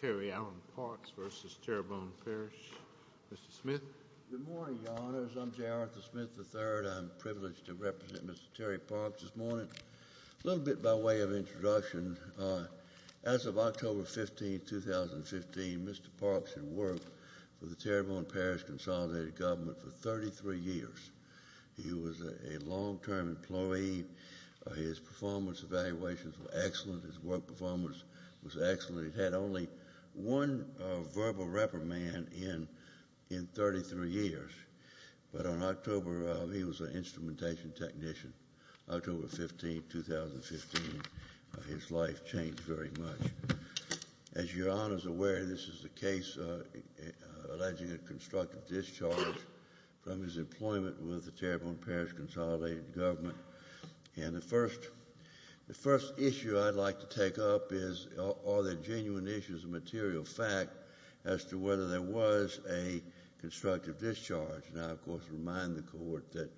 Terry Allen Parks v. Terrebonne Parish Good morning, Your Honors. I'm Jareth Smith III. I'm privileged to represent Mr. Terry Parks this morning. A little bit by way of introduction, as of October 15, 2015, Mr. Parks had worked for the Terrebonne Parish Consolidated Government for 33 years. He was a long-term employee. His performance evaluations were excellent. His work performance was excellent. He had only one verbal reprimand in 33 years, but on October, he was an instrumentation technician. October 15, 2015, his life changed very much. As Your Honors are aware, this is the case alleging a constructive discharge from his employment with the Terrebonne Parish Consolidated Government. The first issue I'd like to take up is are there genuine issues of material fact as to whether there was a constructive discharge. I, of course, remind the Court that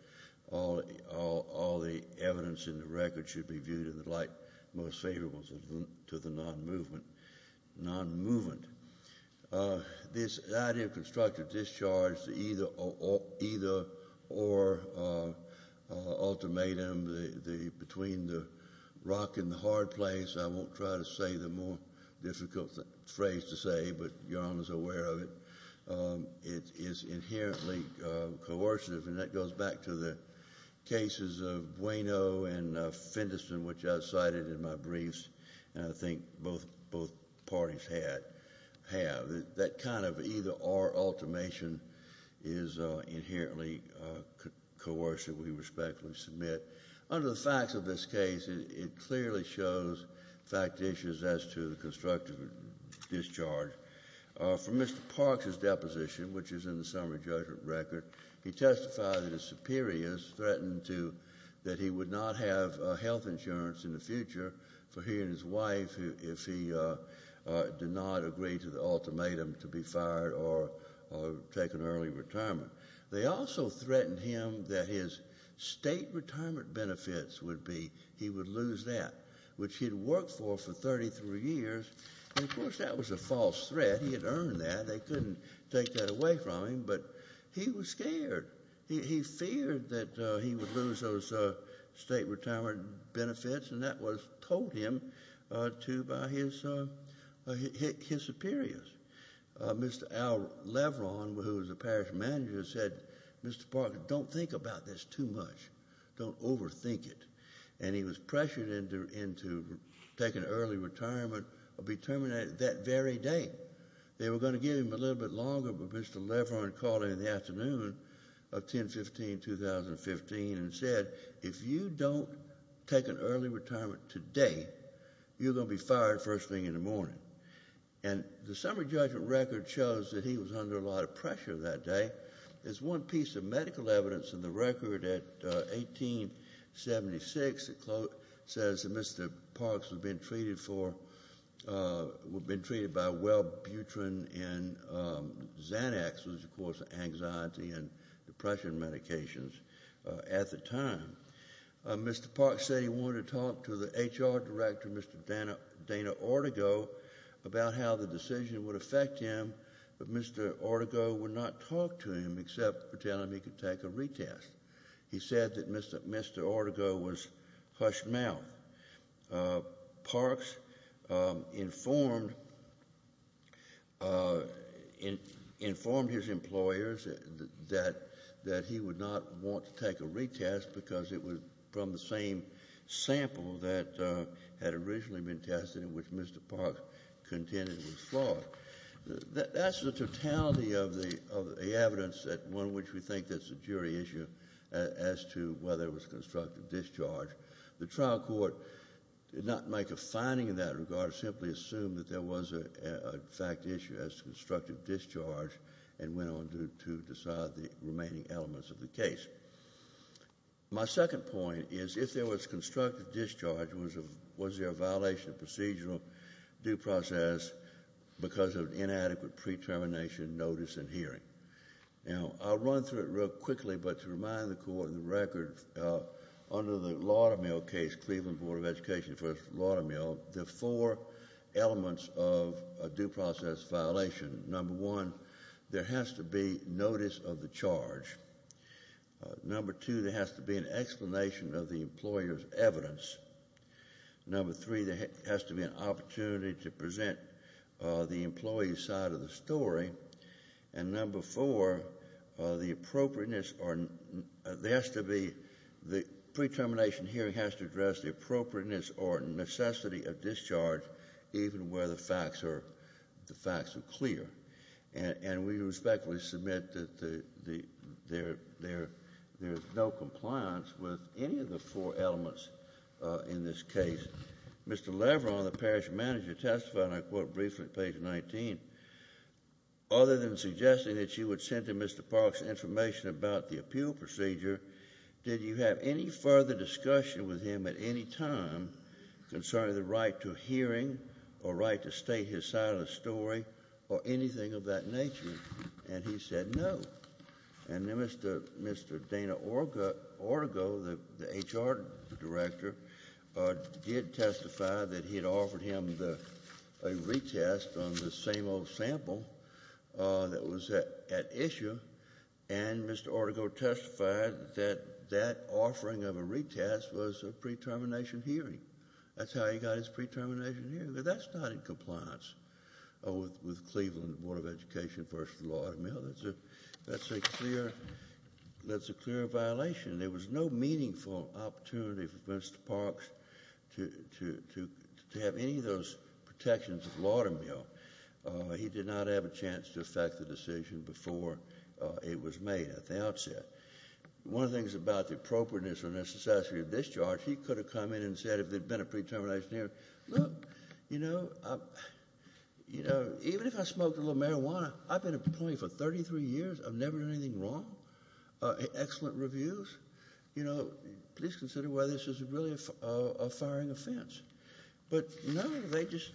all the evidence in the record should be viewed in the light most favorable to the non-movement. This idea of constructive discharge, either or ultimatum between the rock and the hard place, I won't try to say the more difficult phrase to say, but Your Honors are aware of it. It is inherently coercive, and that goes back to the cases of Bueno and Fenderson, which I cited in my briefs, and I think both parties have. That kind of either or ultimatum is inherently coercive, we respectfully submit. Under the facts of this case, it clearly shows fact issues as to the constructive discharge. From Mr. Parks' deposition, which is in the summary judgment record, he testified that his superiors threatened that he would not have health insurance in the future for he and his wife if he did not agree to the ultimatum to be fired or take an early retirement. They also threatened him that his state retirement benefits would be, he would lose that, which he had worked for for 33 years. Of course, that was a false threat. He had earned that. They couldn't take that away from him, but he was scared. He feared that he would lose those state retirement benefits, and that was told him to by his superiors. Mr. Al Leveron, who was the parish manager, said, Mr. Parks, don't think about this too much. Don't overthink it. And he was pressured into taking early retirement that very day. They were going to give him a little bit longer, but Mr. Leveron called him in the afternoon of 10-15-2015 and said, if you don't take an early retirement today, you're going to be fired first thing in the morning. And the summary judgment record shows that he was under a lot of pressure that day. There's one piece of medical evidence in the record at 1876 that says that Mr. Parks was being treated for, was being treated by Welbutrin and Xanax, which was, of course, anxiety and depression medications at the time. Mr. Parks said he wanted to talk to the HR director, Mr. Dana Ortego, about how the decision would affect him, but Mr. Ortego would not talk to him except for telling him he could take a retest. He said that Mr. Ortego was hush mouth. Parks informed his employers that he would not want to take a retest because it was from the same sample that had originally been tested, which Mr. Parks contended was flawed. That's the totality of the evidence, one of which we think that's a jury issue, as to whether it was constructive discharge. The trial court did not make a finding in that regard, simply assumed that there was a fact issue as to constructive discharge and went on to decide the remaining elements of the case. My second point is if there was constructive discharge, was there a violation of procedural due process because of inadequate pre-termination notice and hearing? Now, I'll run through it real quickly, but to remind the court of the record, under the Laudamil case, Cleveland Board of Education v. Laudamil, there are four elements of a due process violation. Number one, there has to be notice of the charge. Number two, there has to be an explanation of the employer's evidence. Number three, there has to be an opportunity to present the employee's side of the story. And number four, the pre-termination hearing has to address the appropriateness or necessity of discharge, even where the facts are clear. And we respectfully submit that there is no compliance with any of the four elements in this case. Mr. Leveron, the parish manager, testified, and I quote briefly at page 19, other than suggesting that you would send to Mr. Parks information about the appeal procedure, did you have any further discussion with him at any time concerning the right to hearing or right to state his side of the story or anything of that nature? And he said no. And then Mr. Dana Ortego, the HR director, did testify that he had offered him a retest on the same old sample that was at issue, and Mr. Ortego testified that that offering of a retest was a pre-termination hearing. That's how he got his pre-termination hearing. That's not in compliance with Cleveland Board of Education v. Laudermill. That's a clear violation. There was no meaningful opportunity for Mr. Parks to have any of those protections at Laudermill. He did not have a chance to affect the decision before it was made at the outset. One of the things about the appropriateness or necessity of discharge, he could have come in and said if there had been a pre-termination hearing, look, you know, even if I smoked a little marijuana, I've been a plaintiff for 33 years. I've never done anything wrong. Excellent reviews. You know, please consider whether this is really a firing offense. But no, they just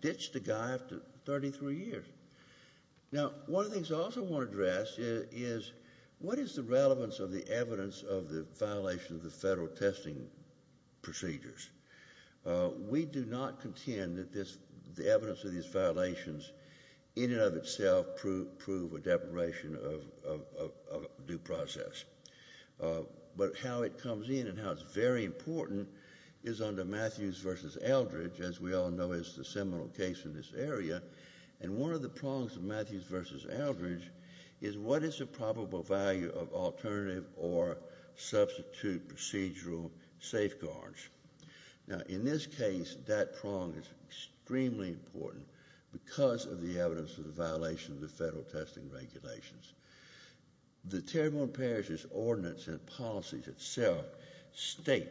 ditched the guy after 33 years. Now, one of the things I also want to address is, what is the relevance of the evidence of the violation of the federal testing procedures? We do not contend that the evidence of these violations in and of itself prove a deprivation of due process. But how it comes in and how it's very important is under Matthews v. Eldridge, as we all know is the seminal case in this area. And one of the prongs of Matthews v. Eldridge is, what is the probable value of alternative or substitute procedural safeguards? Now, in this case, that prong is extremely important because of the evidence of the violation of the federal testing regulations. The Terrebonne Parishes Ordinance and Policies itself state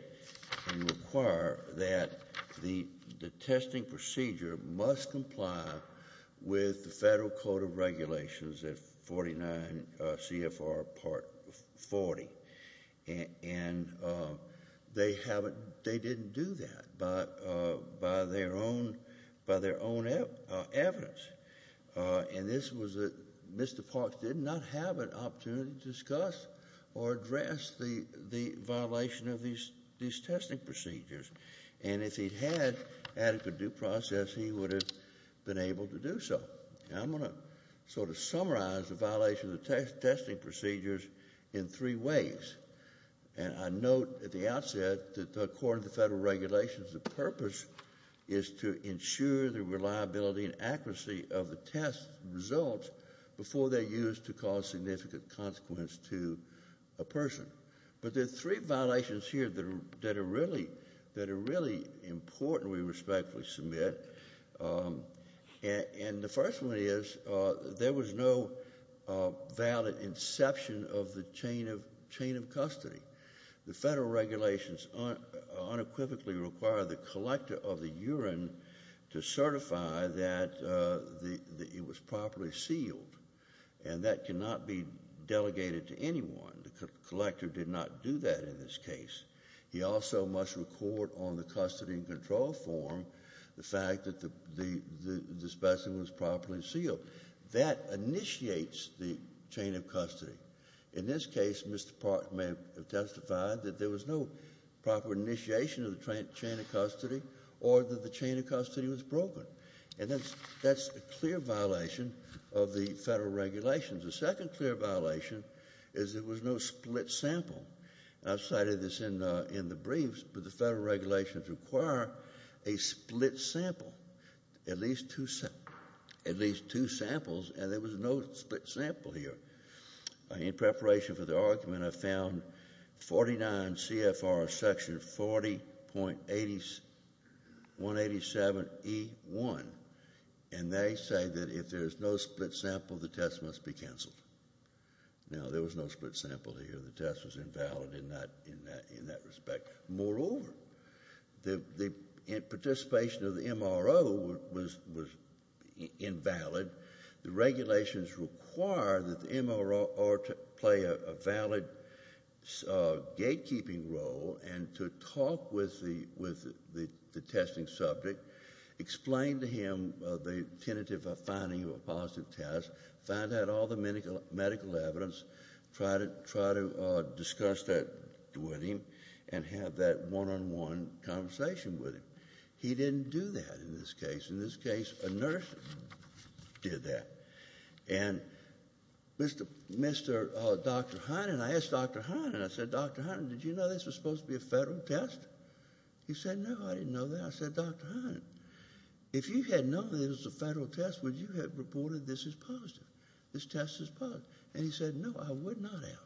and require that the testing procedure must comply with the Federal Code of Regulations at 49 CFR Part 40. And they didn't do that by their own evidence. And this was that Mr. Parks did not have an opportunity to discuss or address the violation of these testing procedures. And if he had adequate due process, he would have been able to do so. Now, I'm going to sort of summarize the violation of the testing procedures in three ways. And I note at the outset that according to the federal regulations, the purpose is to ensure the reliability and accuracy of the test results before they're used to cause significant consequence to a person. But there are three violations here that are really important we respectfully submit. And the first one is there was no valid inception of the chain of custody. The federal regulations unequivocally require the collector of the urine to certify that it was properly sealed. And that cannot be delegated to anyone. The collector did not do that in this case. He also must record on the custody and control form the fact that the specimen was properly sealed. That initiates the chain of custody. In this case, Mr. Park may have testified that there was no proper initiation of the chain of custody or that the chain of custody was broken. And that's a clear violation of the federal regulations. The second clear violation is there was no split sample. I've cited this in the briefs, but the federal regulations require a split sample, at least two samples, and there was no split sample here. In preparation for the argument, I found 49 CFR Section 40.187E1, and they say that if there's no split sample, the test must be canceled. Now, there was no split sample here. The test was invalid in that respect. Moreover, the participation of the MRO was invalid. The regulations require that the MRO play a valid gatekeeping role and to talk with the testing subject, explain to him the tentative finding of a positive test, find out all the medical evidence, try to discuss that with him and have that one-on-one conversation with him. He didn't do that in this case. A nurse did that. And Dr. Hynden, I asked Dr. Hynden, I said, Dr. Hynden, did you know this was supposed to be a federal test? He said, no, I didn't know that. I said, Dr. Hynden, if you had known that it was a federal test, would you have reported this as positive, this test as positive? And he said, no, I would not have.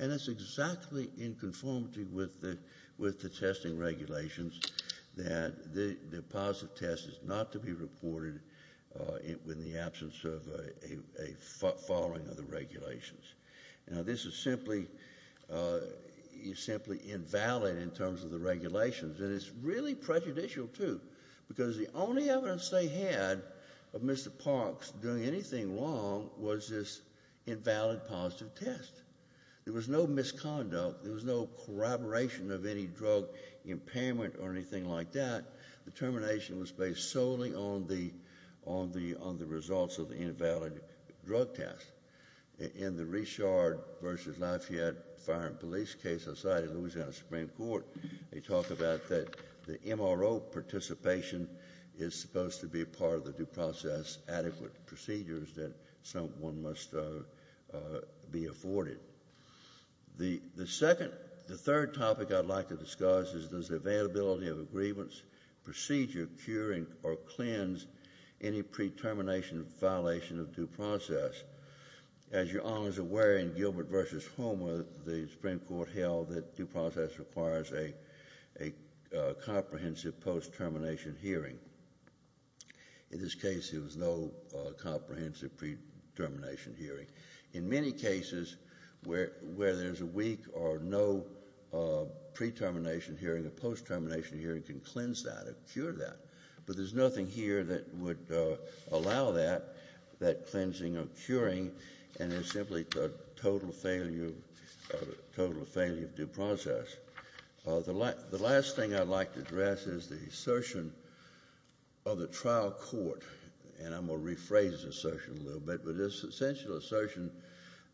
And that's exactly in conformity with the testing regulations that the positive test is not to be reported in the absence of a following of the regulations. Now, this is simply invalid in terms of the regulations. And it's really prejudicial, too, because the only evidence they had of Mr. Parks doing anything wrong was this invalid positive test. There was no misconduct. There was no corroboration of any drug impairment or anything like that. The termination was based solely on the results of the invalid drug test. In the Richard v. Lafayette Fire and Police Case Society, Louisiana Supreme Court, they talk about that the MRO participation is supposed to be a part of the due process, adequate procedures that someone must be afforded. The second, the third topic I'd like to discuss is the availability of a grievance procedure curing or cleanse any pre-termination violation of due process. As your Honor is aware, in Gilbert v. Homer, the Supreme Court held that due process requires a comprehensive post-termination hearing. In this case, there was no comprehensive pre-termination hearing. In many cases where there's a weak or no pre-termination hearing, a post-termination hearing can cleanse that or cure that. But there's nothing here that would allow that, that cleansing or curing, and it's simply a total failure of due process. The last thing I'd like to address is the assertion of the trial court, and I'm going to rephrase this assertion a little bit, but it's an essential assertion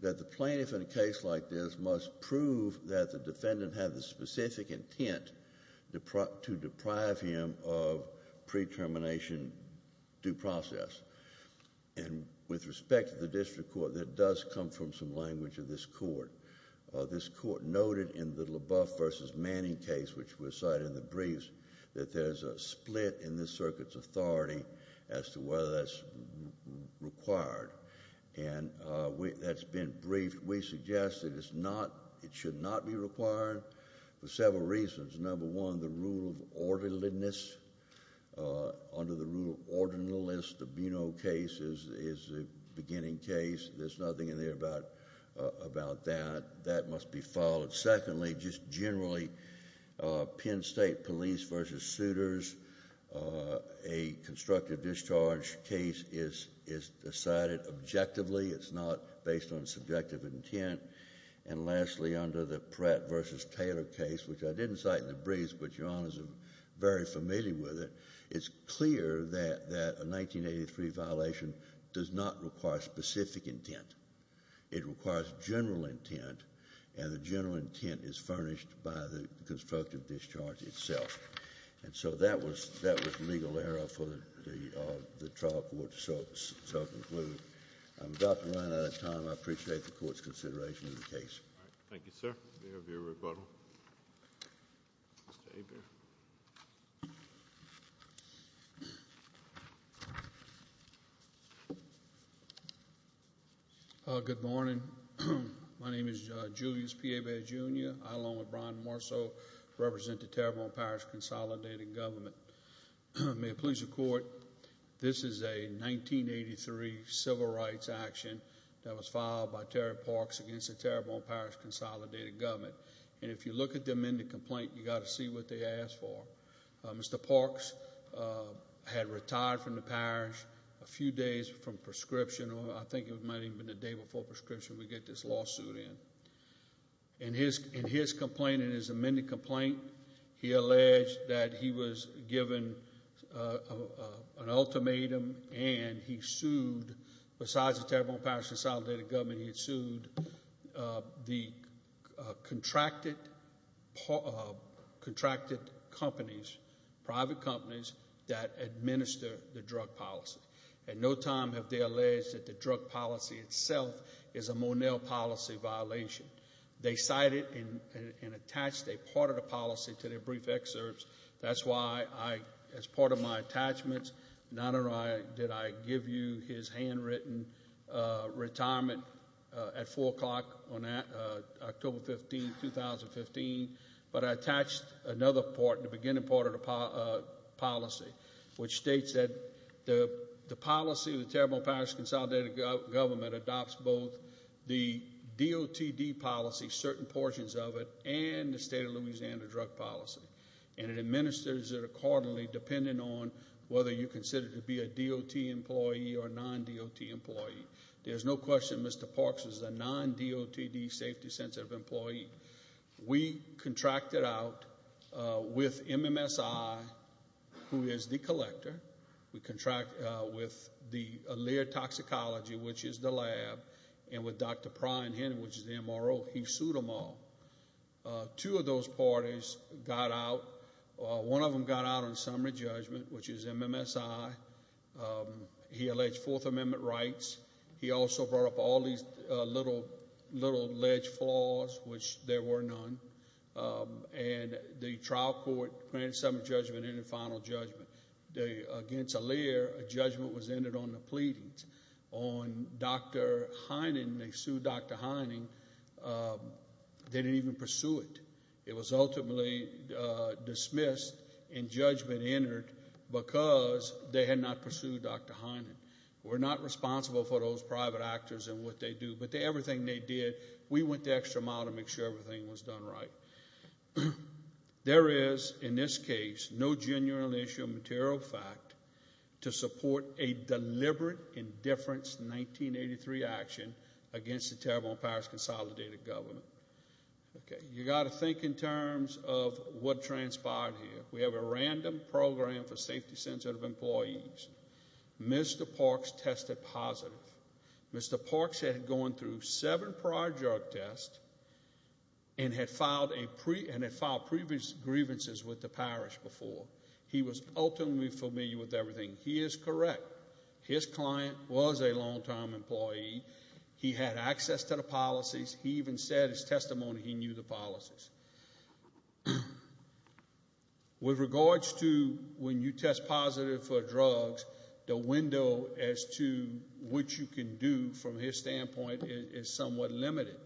that the plaintiff in a case like this must prove that the defendant had the specific intent to deprive him of pre-termination due process. And with respect to the district court, that does come from some language of this court. This court noted in the LaBeouf v. Manning case, which was cited in the briefs, that there's a split in this circuit's authority as to whether that's required. And that's been briefed. We suggest that it should not be required for several reasons. Number one, the rule of orderliness. Under the rule of orderliness, the Beno case is the beginning case. There's nothing in there about that. That must be followed. Secondly, just generally, Penn State police v. suitors, a constructive discharge case is decided objectively. It's not based on subjective intent. And lastly, under the Pratt v. Taylor case, which I didn't cite in the briefs, but your honors are very familiar with it, it's clear that a 1983 violation does not require specific intent. It requires general intent, and the general intent is furnished by the constructive discharge itself. And so that was legal error for the trial court to self-include. I'm about to run out of time. I appreciate the court's consideration of the case. All right. Thank you, sir. May I have your rebuttal? Good morning. My name is Julius P. Abay, Jr. I, along with Brian Marceau, represent the Terrebonne Parish Consolidated Government. May it please the court, this is a 1983 civil rights action that was filed by Terry Parks against the Terrebonne Parish Consolidated Government. And if you look at the amended complaint, you've got to see what they asked for. Mr. Parks had retired from the parish a few days from prescription, or I think it might have even been the day before prescription we get this lawsuit in. In his complaint, in his amended complaint, he alleged that he was given an ultimatum and he sued, besides the Terrebonne Parish Consolidated Government, he sued the contracted companies, private companies, that administer the drug policy. At no time have they alleged that the drug policy itself is a Monell policy violation. They cited and attached a part of the policy to their brief excerpts. That's why, as part of my attachments, not only did I give you his handwritten retirement at 4 o'clock on October 15, 2015, but I attached another part, the beginning part of the policy, which states that the policy of the Terrebonne Parish Consolidated Government adopts both the DOTD policy, certain portions of it, and the state of Louisiana drug policy. And it administers it accordingly, depending on whether you consider it to be a DOT employee or a non-DOT employee. There's no question Mr. Parks is a non-DOTD safety-sensitive employee. We contracted out with MMSI, who is the collector. We contracted out with the Allure Toxicology, which is the lab, and with Dr. Prine Henning, which is the MRO. He sued them all. Two of those parties got out. One of them got out on summary judgment, which is MMSI. He alleged Fourth Amendment rights. He also brought up all these little ledge flaws, which there were none. And the trial court granted some judgment in the final judgment. Against Allure, a judgment was entered on the pleadings. On Dr. Henning, they sued Dr. Henning. They didn't even pursue it. It was ultimately dismissed and judgment entered because they had not pursued Dr. Henning. We're not responsible for those private actors and what they do, but everything they did, we went the extra mile to make sure everything was done right. There is, in this case, no genuine issue of material fact to support a deliberate indifference in 1983 action against the Terrible Empires Consolidated Government. You've got to think in terms of what transpired here. We have a random program for safety-sensitive employees. Mr. Parks tested positive. Mr. Parks had gone through seven prior drug tests and had filed previous grievances with the parish before. He was ultimately familiar with everything. He is correct. His client was a long-time employee. He had access to the policies. He even said in his testimony he knew the policies. With regards to when you test positive for drugs, the window as to what you can do from his standpoint is somewhat limited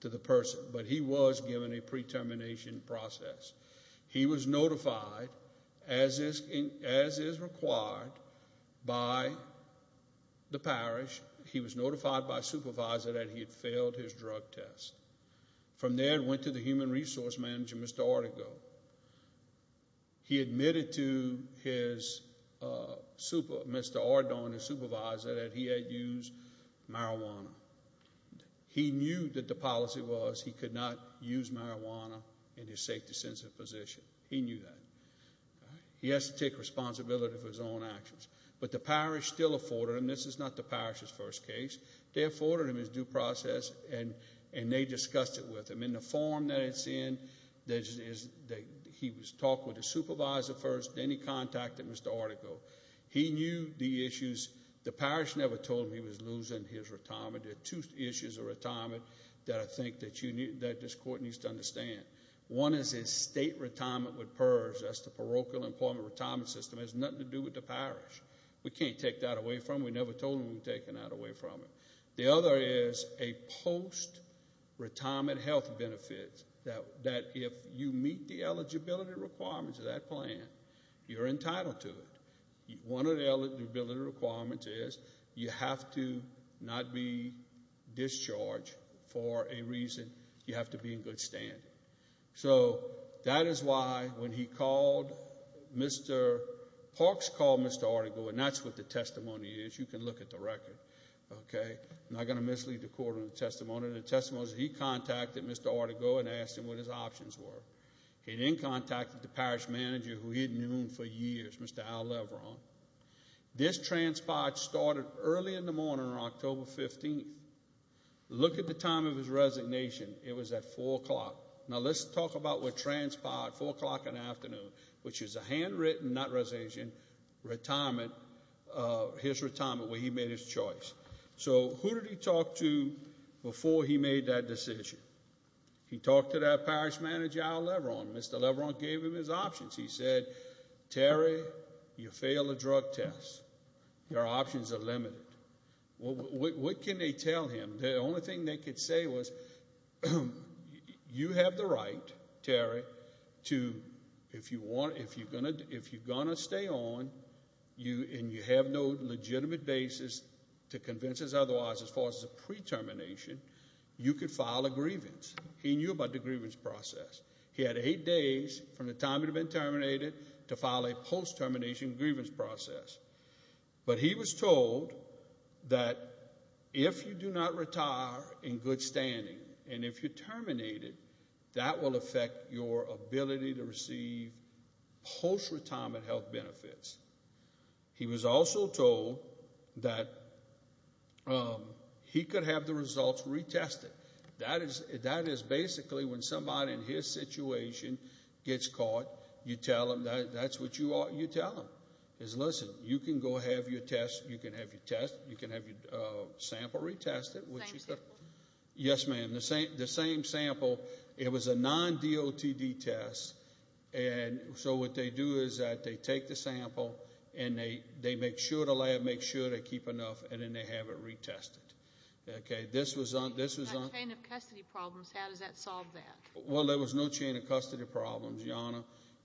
to the person, but he was given a pre-termination process. He was notified, as is required, by the parish. He was notified by a supervisor that he had failed his drug test. From there, he went to the human resource manager, Mr. Ortego. He admitted to Mr. Ortego and his supervisor that he had used marijuana. He knew that the policy was he could not use marijuana in his safety-sensitive position. He knew that. He has to take responsibility for his own actions. But the parish still afforded him. This is not the parish's first case. They afforded him his due process, and they discussed it with him. In the form that it's in, he was talking with the supervisor first, then he contacted Mr. Ortego. He knew the issues. The parish never told him he was losing his retirement. There are two issues of retirement that I think that this court needs to understand. One is his state retirement with PERS. That's the parochial employment retirement system. It has nothing to do with the parish. We can't take that away from him. We never told him we were taking that away from him. The other is a post-retirement health benefit, that if you meet the eligibility requirements of that plan, you're entitled to it. One of the eligibility requirements is you have to not be discharged for a reason. You have to be in good standing. So that is why when he called Mr. Parks called Mr. Ortego, and that's what the testimony is. You can look at the record. I'm not going to mislead the court on the testimony. The testimony is he contacted Mr. Ortego and asked him what his options were. He then contacted the parish manager who he had known for years, Mr. Al Leveron. This transpired started early in the morning on October 15th. Look at the time of his resignation. It was at 4 o'clock. Now let's talk about what transpired at 4 o'clock in the afternoon, which is a handwritten, not resignation, retirement, his retirement, where he made his choice. So who did he talk to before he made that decision? He talked to that parish manager, Al Leveron. Mr. Leveron gave him his options. He said, Terry, you failed the drug test. Your options are limited. What can they tell him? The only thing they could say was you have the right, Terry, to if you're going to stay on and you have no legitimate basis to convince us otherwise as far as a pre-termination, you could file a grievance. He knew about the grievance process. He had eight days from the time he'd been terminated to file a post-termination grievance process. But he was told that if you do not retire in good standing and if you're terminated, that will affect your ability to receive post-retirement health benefits. He was also told that he could have the results retested. That is basically when somebody in his situation gets caught, you tell them, that's what you tell them, is listen, you can go have your test, you can have your sample retested. Same sample? Yes, ma'am, the same sample. It was a non-DOTD test. So what they do is that they take the sample and they make sure the lab makes sure they keep enough, and then they have it retested. Okay, this was on? He's got a chain of custody problems. How does that solve that? Well, there was no chain of custody problems, Your Honor.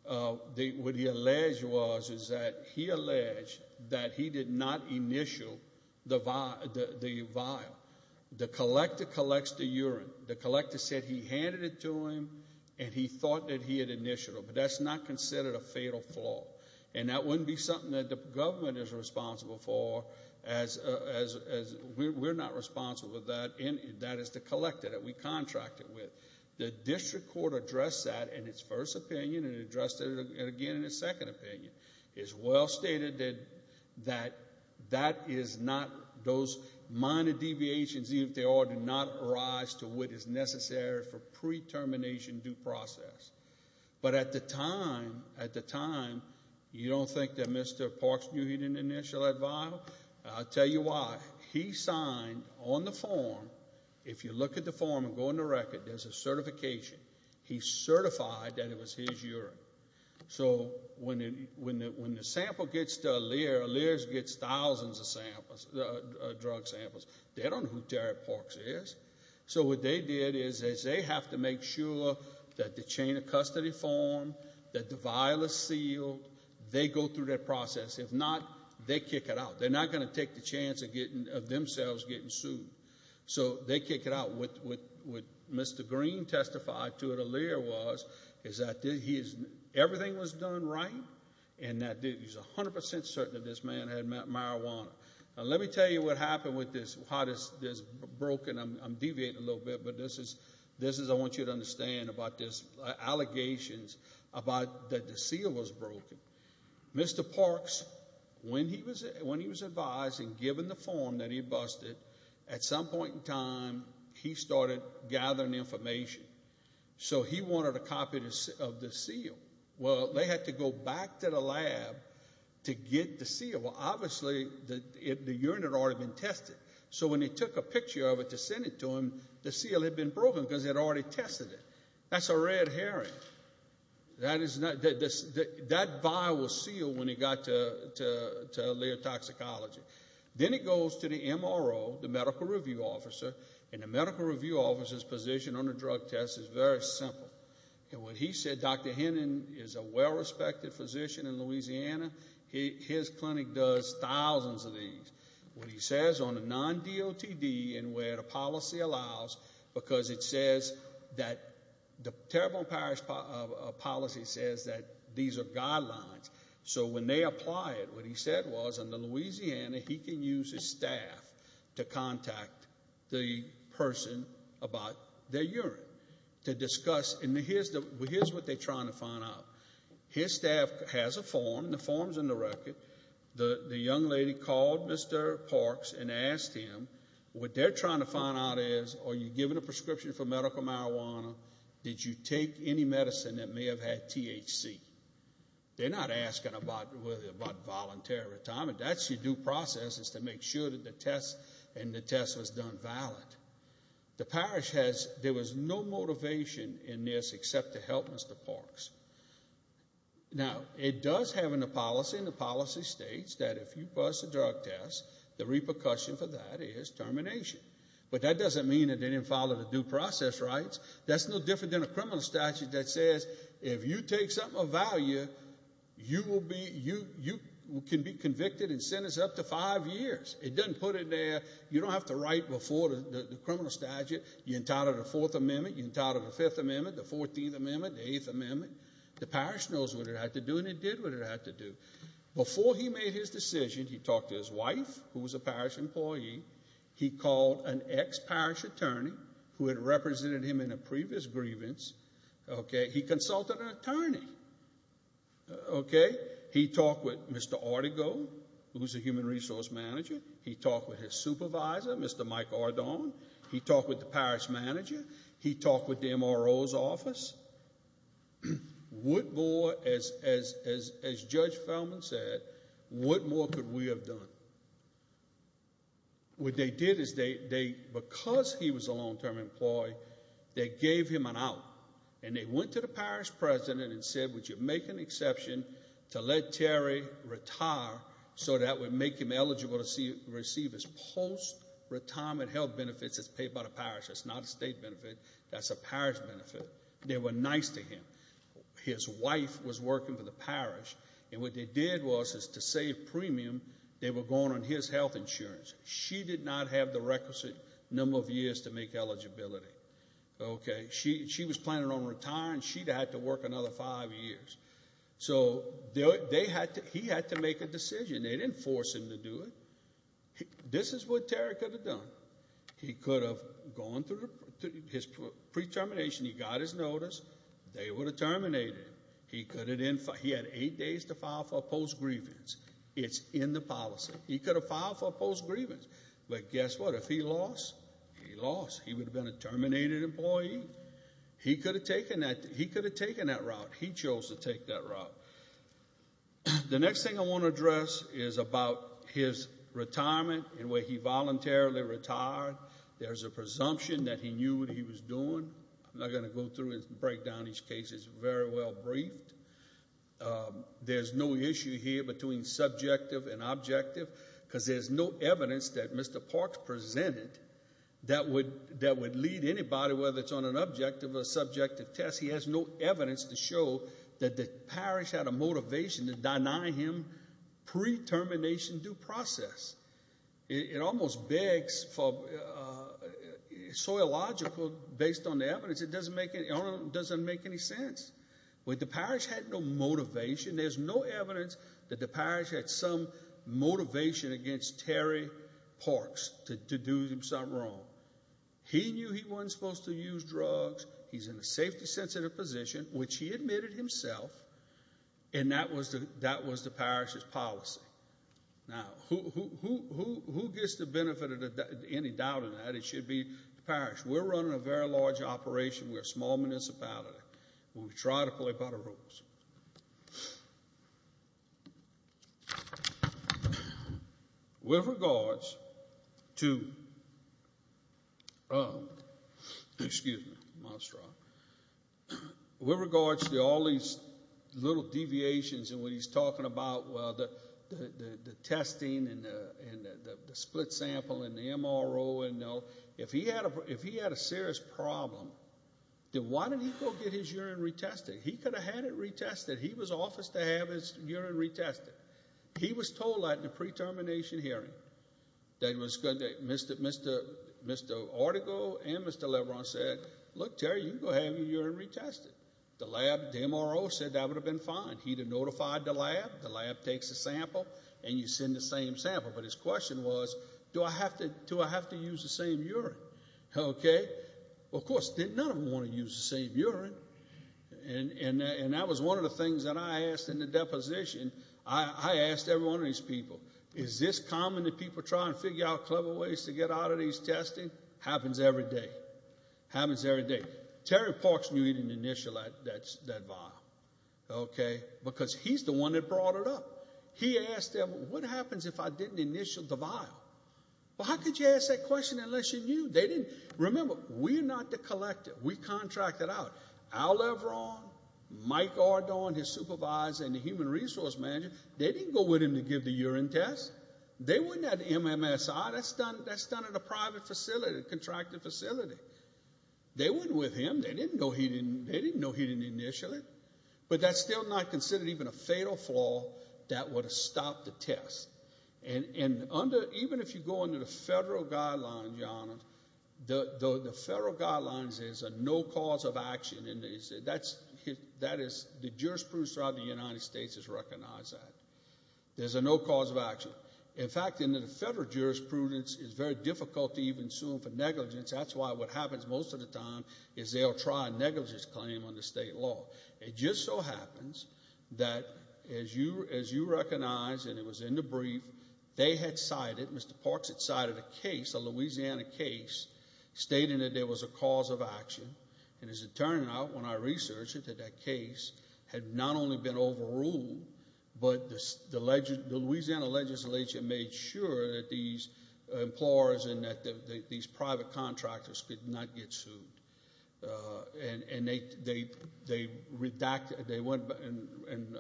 What he alleged was is that he alleged that he did not initial the vial. The collector collects the urine. The collector said he handed it to him and he thought that he had initialed it, but that's not considered a fatal flaw, and that wouldn't be something that the government is responsible for as we're not responsible for that, and that is the collector that we contracted with. The district court addressed that in its first opinion and addressed it again in its second opinion. It's well stated that that is not those minor deviations, even if they are, do not arise to what is necessary for pre-termination due process. But at the time, you don't think that Mr. Parks knew he didn't initial that vial? I'll tell you why. He signed on the form. If you look at the form and go in the record, there's a certification. He certified that it was his urine. So when the sample gets to Aaliyah, Aaliyah gets thousands of drug samples. They don't know who Terry Parks is. So what they did is they have to make sure that the chain of custody form, that the vial is sealed. They go through that process. If not, they kick it out. They're not going to take the chance of themselves getting sued. So they kick it out. What Mr. Green testified to at Aaliyah was is that everything was done right and that he's 100% certain that this man had marijuana. Now let me tell you what happened with this, how this is broken. I'm deviating a little bit, but this is I want you to understand about this, allegations about that the seal was broken. Mr. Parks, when he was advised and given the form that he busted, at some point in time he started gathering information. So he wanted a copy of the seal. Well, they had to go back to the lab to get the seal. They said, well, obviously the urine had already been tested. So when they took a picture of it to send it to him, the seal had been broken because they had already tested it. That's a red herring. That vial was sealed when he got to Leo Toxicology. Then it goes to the MRO, the medical review officer, and the medical review officer's position on the drug test is very simple. What he said, Dr. Hannon is a well-respected physician in Louisiana. His clinic does thousands of these. What he says on a non-DOTD and where the policy allows, because it says that the Terrible Impairment Policy says that these are guidelines. So when they apply it, what he said was in Louisiana he can use his staff to contact the person about their urine to discuss. And here's what they're trying to find out. His staff has a form. The form's in the record. The young lady called Mr. Parks and asked him what they're trying to find out is, are you given a prescription for medical marijuana? Did you take any medicine that may have had THC? They're not asking about voluntary retirement. That's your due process is to make sure that the test and the test was done valid. The parish has no motivation in this except to help Mr. Parks. Now, it does have in the policy, and the policy states that if you pass the drug test, the repercussion for that is termination. But that doesn't mean that they didn't follow the due process rights. That's no different than a criminal statute that says if you take something of value, you can be convicted and sentenced up to five years. It doesn't put it there. You don't have to write before the criminal statute. You entitled the Fourth Amendment. You entitled the Fifth Amendment, the Fourteenth Amendment, the Eighth Amendment. The parish knows what it had to do, and it did what it had to do. Before he made his decision, he talked to his wife, who was a parish employee. He called an ex-parish attorney who had represented him in a previous grievance. He consulted an attorney. He talked with Mr. Artigo, who's a human resource manager. He talked with his supervisor, Mr. Mike Ardon. He talked with the parish manager. He talked with the MRO's office. What more, as Judge Feldman said, what more could we have done? What they did is they, because he was a long-term employee, they gave him an out, and they went to the parish president and said, Would you make an exception to let Terry retire so that would make him eligible to receive his post-retirement health benefits that's paid by the parish? That's not a state benefit. That's a parish benefit. They were nice to him. His wife was working for the parish, and what they did was to save premium, they were going on his health insurance. She did not have the requisite number of years to make eligibility. She was planning on retiring. She'd have had to work another five years. So he had to make a decision. They didn't force him to do it. This is what Terry could have done. He could have gone through his pre-termination. He got his notice. They would have terminated him. He had eight days to file for a post-grievance. It's in the policy. He could have filed for a post-grievance, but guess what? If he lost, he lost. He would have been a terminated employee. He could have taken that route. He chose to take that route. The next thing I want to address is about his retirement and where he voluntarily retired. There's a presumption that he knew what he was doing. I'm not going to go through and break down each case. It's very well briefed. There's no issue here between subjective and objective because there's no evidence that Mr. Parks presented that would lead anybody, whether it's on an objective or a subjective test, he has no evidence to show that the parish had a motivation to deny him pre-termination due process. It almost begs for so logical based on the evidence. It doesn't make any sense. The parish had no motivation. There's no evidence that the parish had some motivation against Terry Parks to do something wrong. He knew he wasn't supposed to use drugs. He's in a safety-sensitive position, which he admitted himself, and that was the parish's policy. Now, who gets the benefit of any doubt in that? It should be the parish. We're running a very large operation. We're a small municipality, and we try to play by the rules. With regards to all these little deviations and what he's talking about, the testing and the split sample and the MRO, if he had a serious problem, then why didn't he go get his urine retested? He could have had it retested. He was officed to have his urine retested. He was told that in the pre-termination hearing that Mr. Ortego and Mr. Lebron said, Look, Terry, you can go have your urine retested. The lab, the MRO, said that would have been fine. He would have notified the lab. The lab takes a sample, and you send the same sample. But his question was, Do I have to use the same urine? Okay. Well, of course, none of them want to use the same urine, and that was one of the things that I asked in the deposition. I asked every one of these people, Is this common that people try and figure out clever ways to get out of these testing? Happens every day. Happens every day. Terry Parks knew he didn't initial that vial, okay, because he's the one that brought it up. He asked them, What happens if I didn't initial the vial? Well, how could you ask that question unless you knew? They didn't. Remember, we're not the collector. We contract it out. Al Lebron, Mike Ardon, his supervisor, and the human resource manager, they didn't go with him to give the urine test. They went at MMSI. That's done at a private facility, a contracted facility. They went with him. They didn't know he didn't initial it, but that's still not considered even a fatal flaw that would have stopped the test. And even if you go under the federal guidelines, Your Honor, the federal guidelines is a no cause of action, and the jurisprudence throughout the United States has recognized that. There's a no cause of action. In fact, in the federal jurisprudence, it's very difficult to even sue for negligence. That's why what happens most of the time is they'll try a negligence claim under state law. It just so happens that, as you recognize, and it was in the brief, they had cited, Mr. Parks had cited a case, a Louisiana case, stating that there was a cause of action. And as it turned out, when I researched it, that that case had not only been overruled, but the Louisiana legislature made sure that these employers and that these private contractors could not get sued. And they went and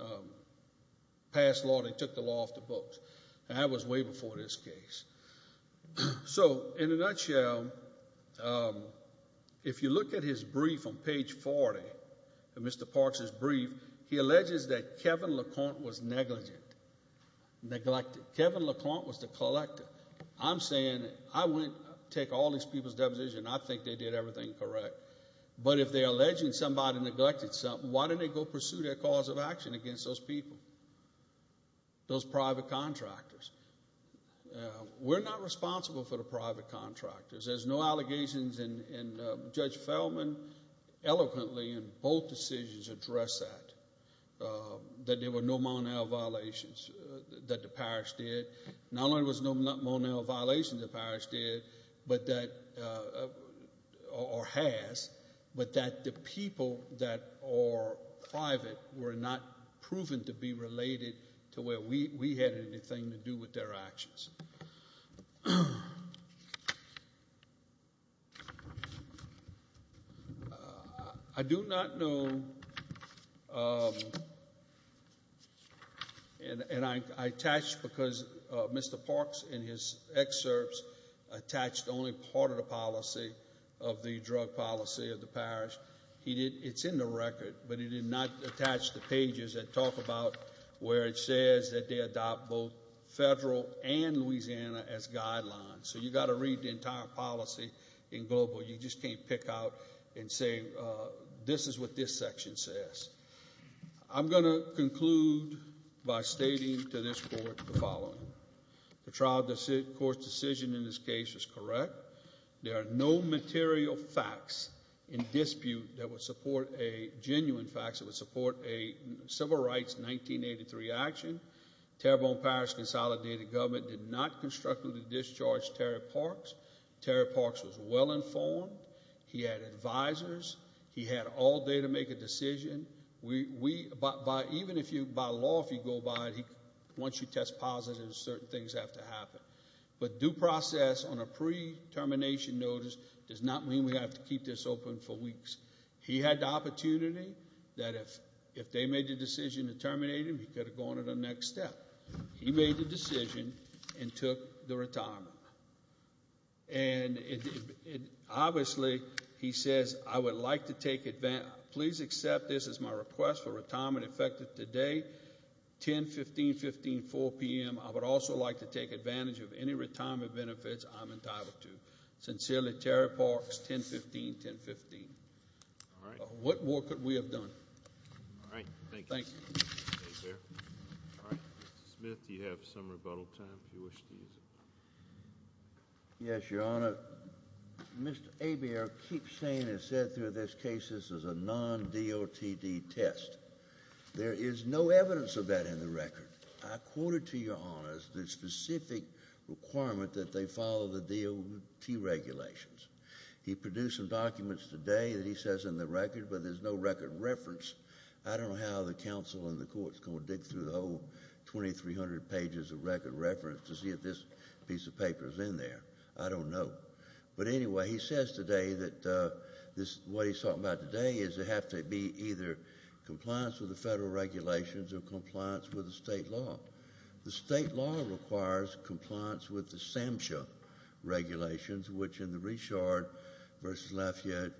passed law. They took the law off the books, and that was way before this case. So in a nutshell, if you look at his brief on page 40, Mr. Parks' brief, he alleges that Kevin LaConte was negligent, neglected. Kevin LaConte was the collector. I'm saying I wouldn't take all these people's deposition. I think they did everything correct. But if they're alleging somebody neglected something, why didn't they go pursue their cause of action against those people, those private contractors? We're not responsible for the private contractors. There's no allegations, and Judge Feldman eloquently in both decisions addressed that, that there were no Mon-El violations that the parish did. Not only was there no Mon-El violations the parish did or has, but that the people that are private were not proven to be related to where we had anything to do with their actions. I do not know, and I attached because Mr. Parks in his excerpts attached only part of the policy of the drug policy of the parish. It's in the record, but he did not attach the pages that talk about where it says that they adopt both federal and Louisiana as guidelines. So you've got to read the entire policy in global. You just can't pick out and say this is what this section says. I'm going to conclude by stating to this Court the following. The trial court's decision in this case is correct. There are no material facts in dispute that would support a genuine facts that would support a civil rights 1983 action. Terrebonne Parish Consolidated Government did not constructively discharge Terry Parks. Terry Parks was well-informed. He had advisors. He had all day to make a decision. Even by law, if you go by it, once you test positive, certain things have to happen. But due process on a pre-termination notice does not mean we have to keep this open for weeks. He had the opportunity that if they made the decision to terminate him, he could have gone to the next step. He made the decision and took the retirement. And obviously, he says, I would like to take advantage. Please accept this as my request for retirement effective today, 10, 15, 15, 4 p.m. I would also like to take advantage of any retirement benefits I'm entitled to. Sincerely, Terry Parks, 10, 15, 10, 15. All right. What more could we have done? All right. Thank you. Thank you. Mr. Smith, do you have some rebuttal time if you wish to use it? Yes, Your Honor. Mr. Abier keeps saying and has said through this case this is a non-DOTD test. There is no evidence of that in the record. I quoted to Your Honor the specific requirement that they follow the DOT regulations. He produced some documents today that he says in the record, but there's no record reference. I don't know how the counsel and the courts are going to dig through the whole 2,300 pages of record reference to see if this piece of paper is in there. I don't know. But anyway, he says today that what he's talking about today is it has to be either compliance with the federal regulations or compliance with the state law. The state law requires compliance with the SAMHSA regulations, which in the Richard v. Lafayette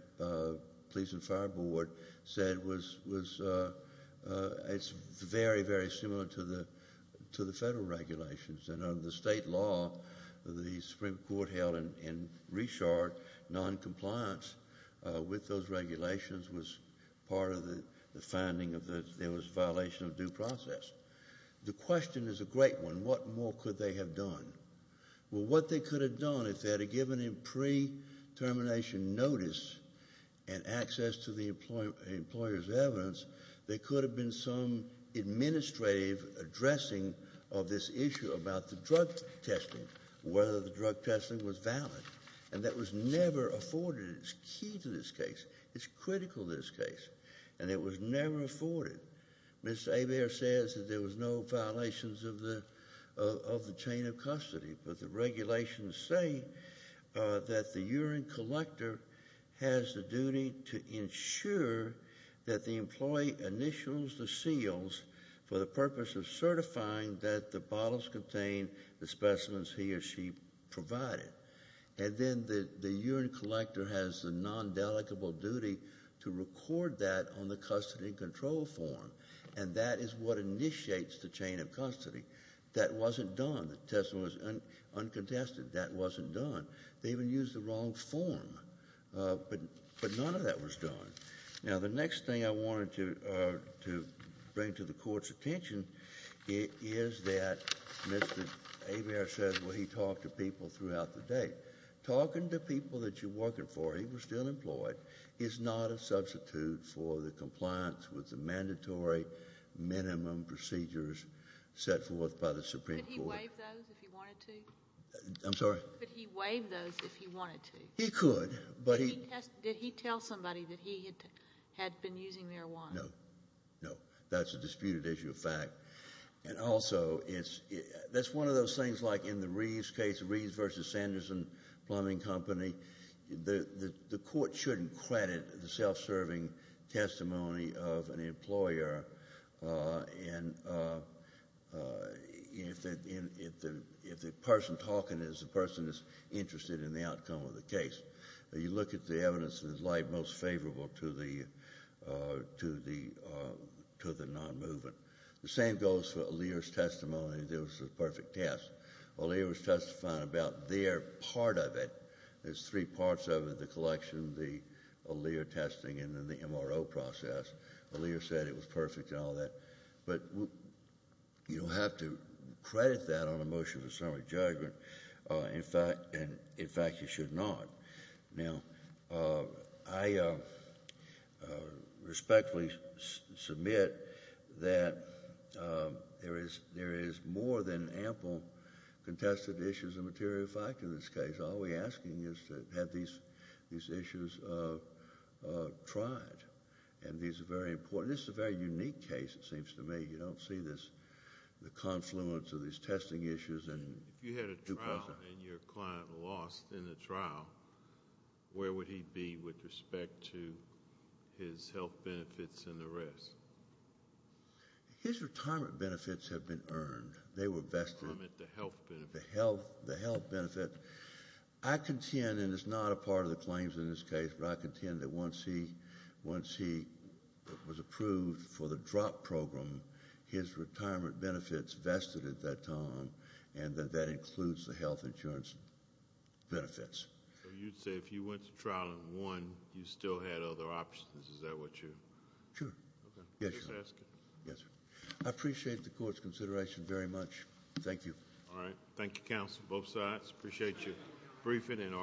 Police and Fire Board said was very, very similar to the federal regulations. And under the state law, the Supreme Court held in Richard noncompliance with those regulations was part of the finding that there was a violation of due process. The question is a great one. What more could they have done? Well, what they could have done if they had given him pre-termination notice and access to the employer's evidence, there could have been some administrative addressing of this issue about the drug testing, whether the drug testing was valid. And that was never afforded. It's key to this case. It's critical to this case. And it was never afforded. Ms. Hebert says that there was no violations of the chain of custody. But the regulations say that the urine collector has the duty to ensure that the employee initials the seals for the purpose of certifying that the bottles contain the specimens he or she provided. And then the urine collector has the non-dedicable duty to record that on the custody control form. And that is what initiates the chain of custody. That wasn't done. The testimony was uncontested. That wasn't done. They even used the wrong form. But none of that was done. Now, the next thing I wanted to bring to the Court's attention is that Mr. Hebert says where he talked to people throughout the day. Talking to people that you're working for, he was still employed, is not a substitute for the compliance with the mandatory minimum procedures set forth by the Supreme Court. Could he waive those if he wanted to? I'm sorry? Could he waive those if he wanted to? He could. Did he tell somebody that he had been using marijuana? No. No. That's a disputed issue of fact. And also, that's one of those things like in the Reeves case, the Reeves v. Sanderson Plumbing Company. The Court shouldn't credit the self-serving testimony of an employer if the person talking is a person that's interested in the outcome of the case. You look at the evidence that is most favorable to the non-movement. The same goes for Aaliyah's testimony that it was a perfect test. Aaliyah was testifying about their part of it. There's three parts of it, the collection, the Aaliyah testing, and then the MRO process. Aaliyah said it was perfect and all that. But you don't have to credit that on a motion for summary judgment. In fact, you should not. Now, I respectfully submit that there is more than ample contested issues of material fact in this case. All we're asking is to have these issues tried, and these are very important. This is a very unique case, it seems to me. You don't see the confluence of these testing issues. If you had a trial and your client lost in the trial, where would he be with respect to his health benefits and the rest? His retirement benefits have been earned. They were vested. The health benefits. The health benefits. I contend, and it's not a part of the claims in this case, but I contend that once he was approved for the drop program, his retirement benefits vested at that time, and that that includes the health insurance benefits. So you'd say if you went to trial and won, you still had other options. Is that what you're asking? Sure. Yes, sir. I appreciate the court's consideration very much. Thank you. All right. Thank you, counsel, both sides. Appreciate your briefing.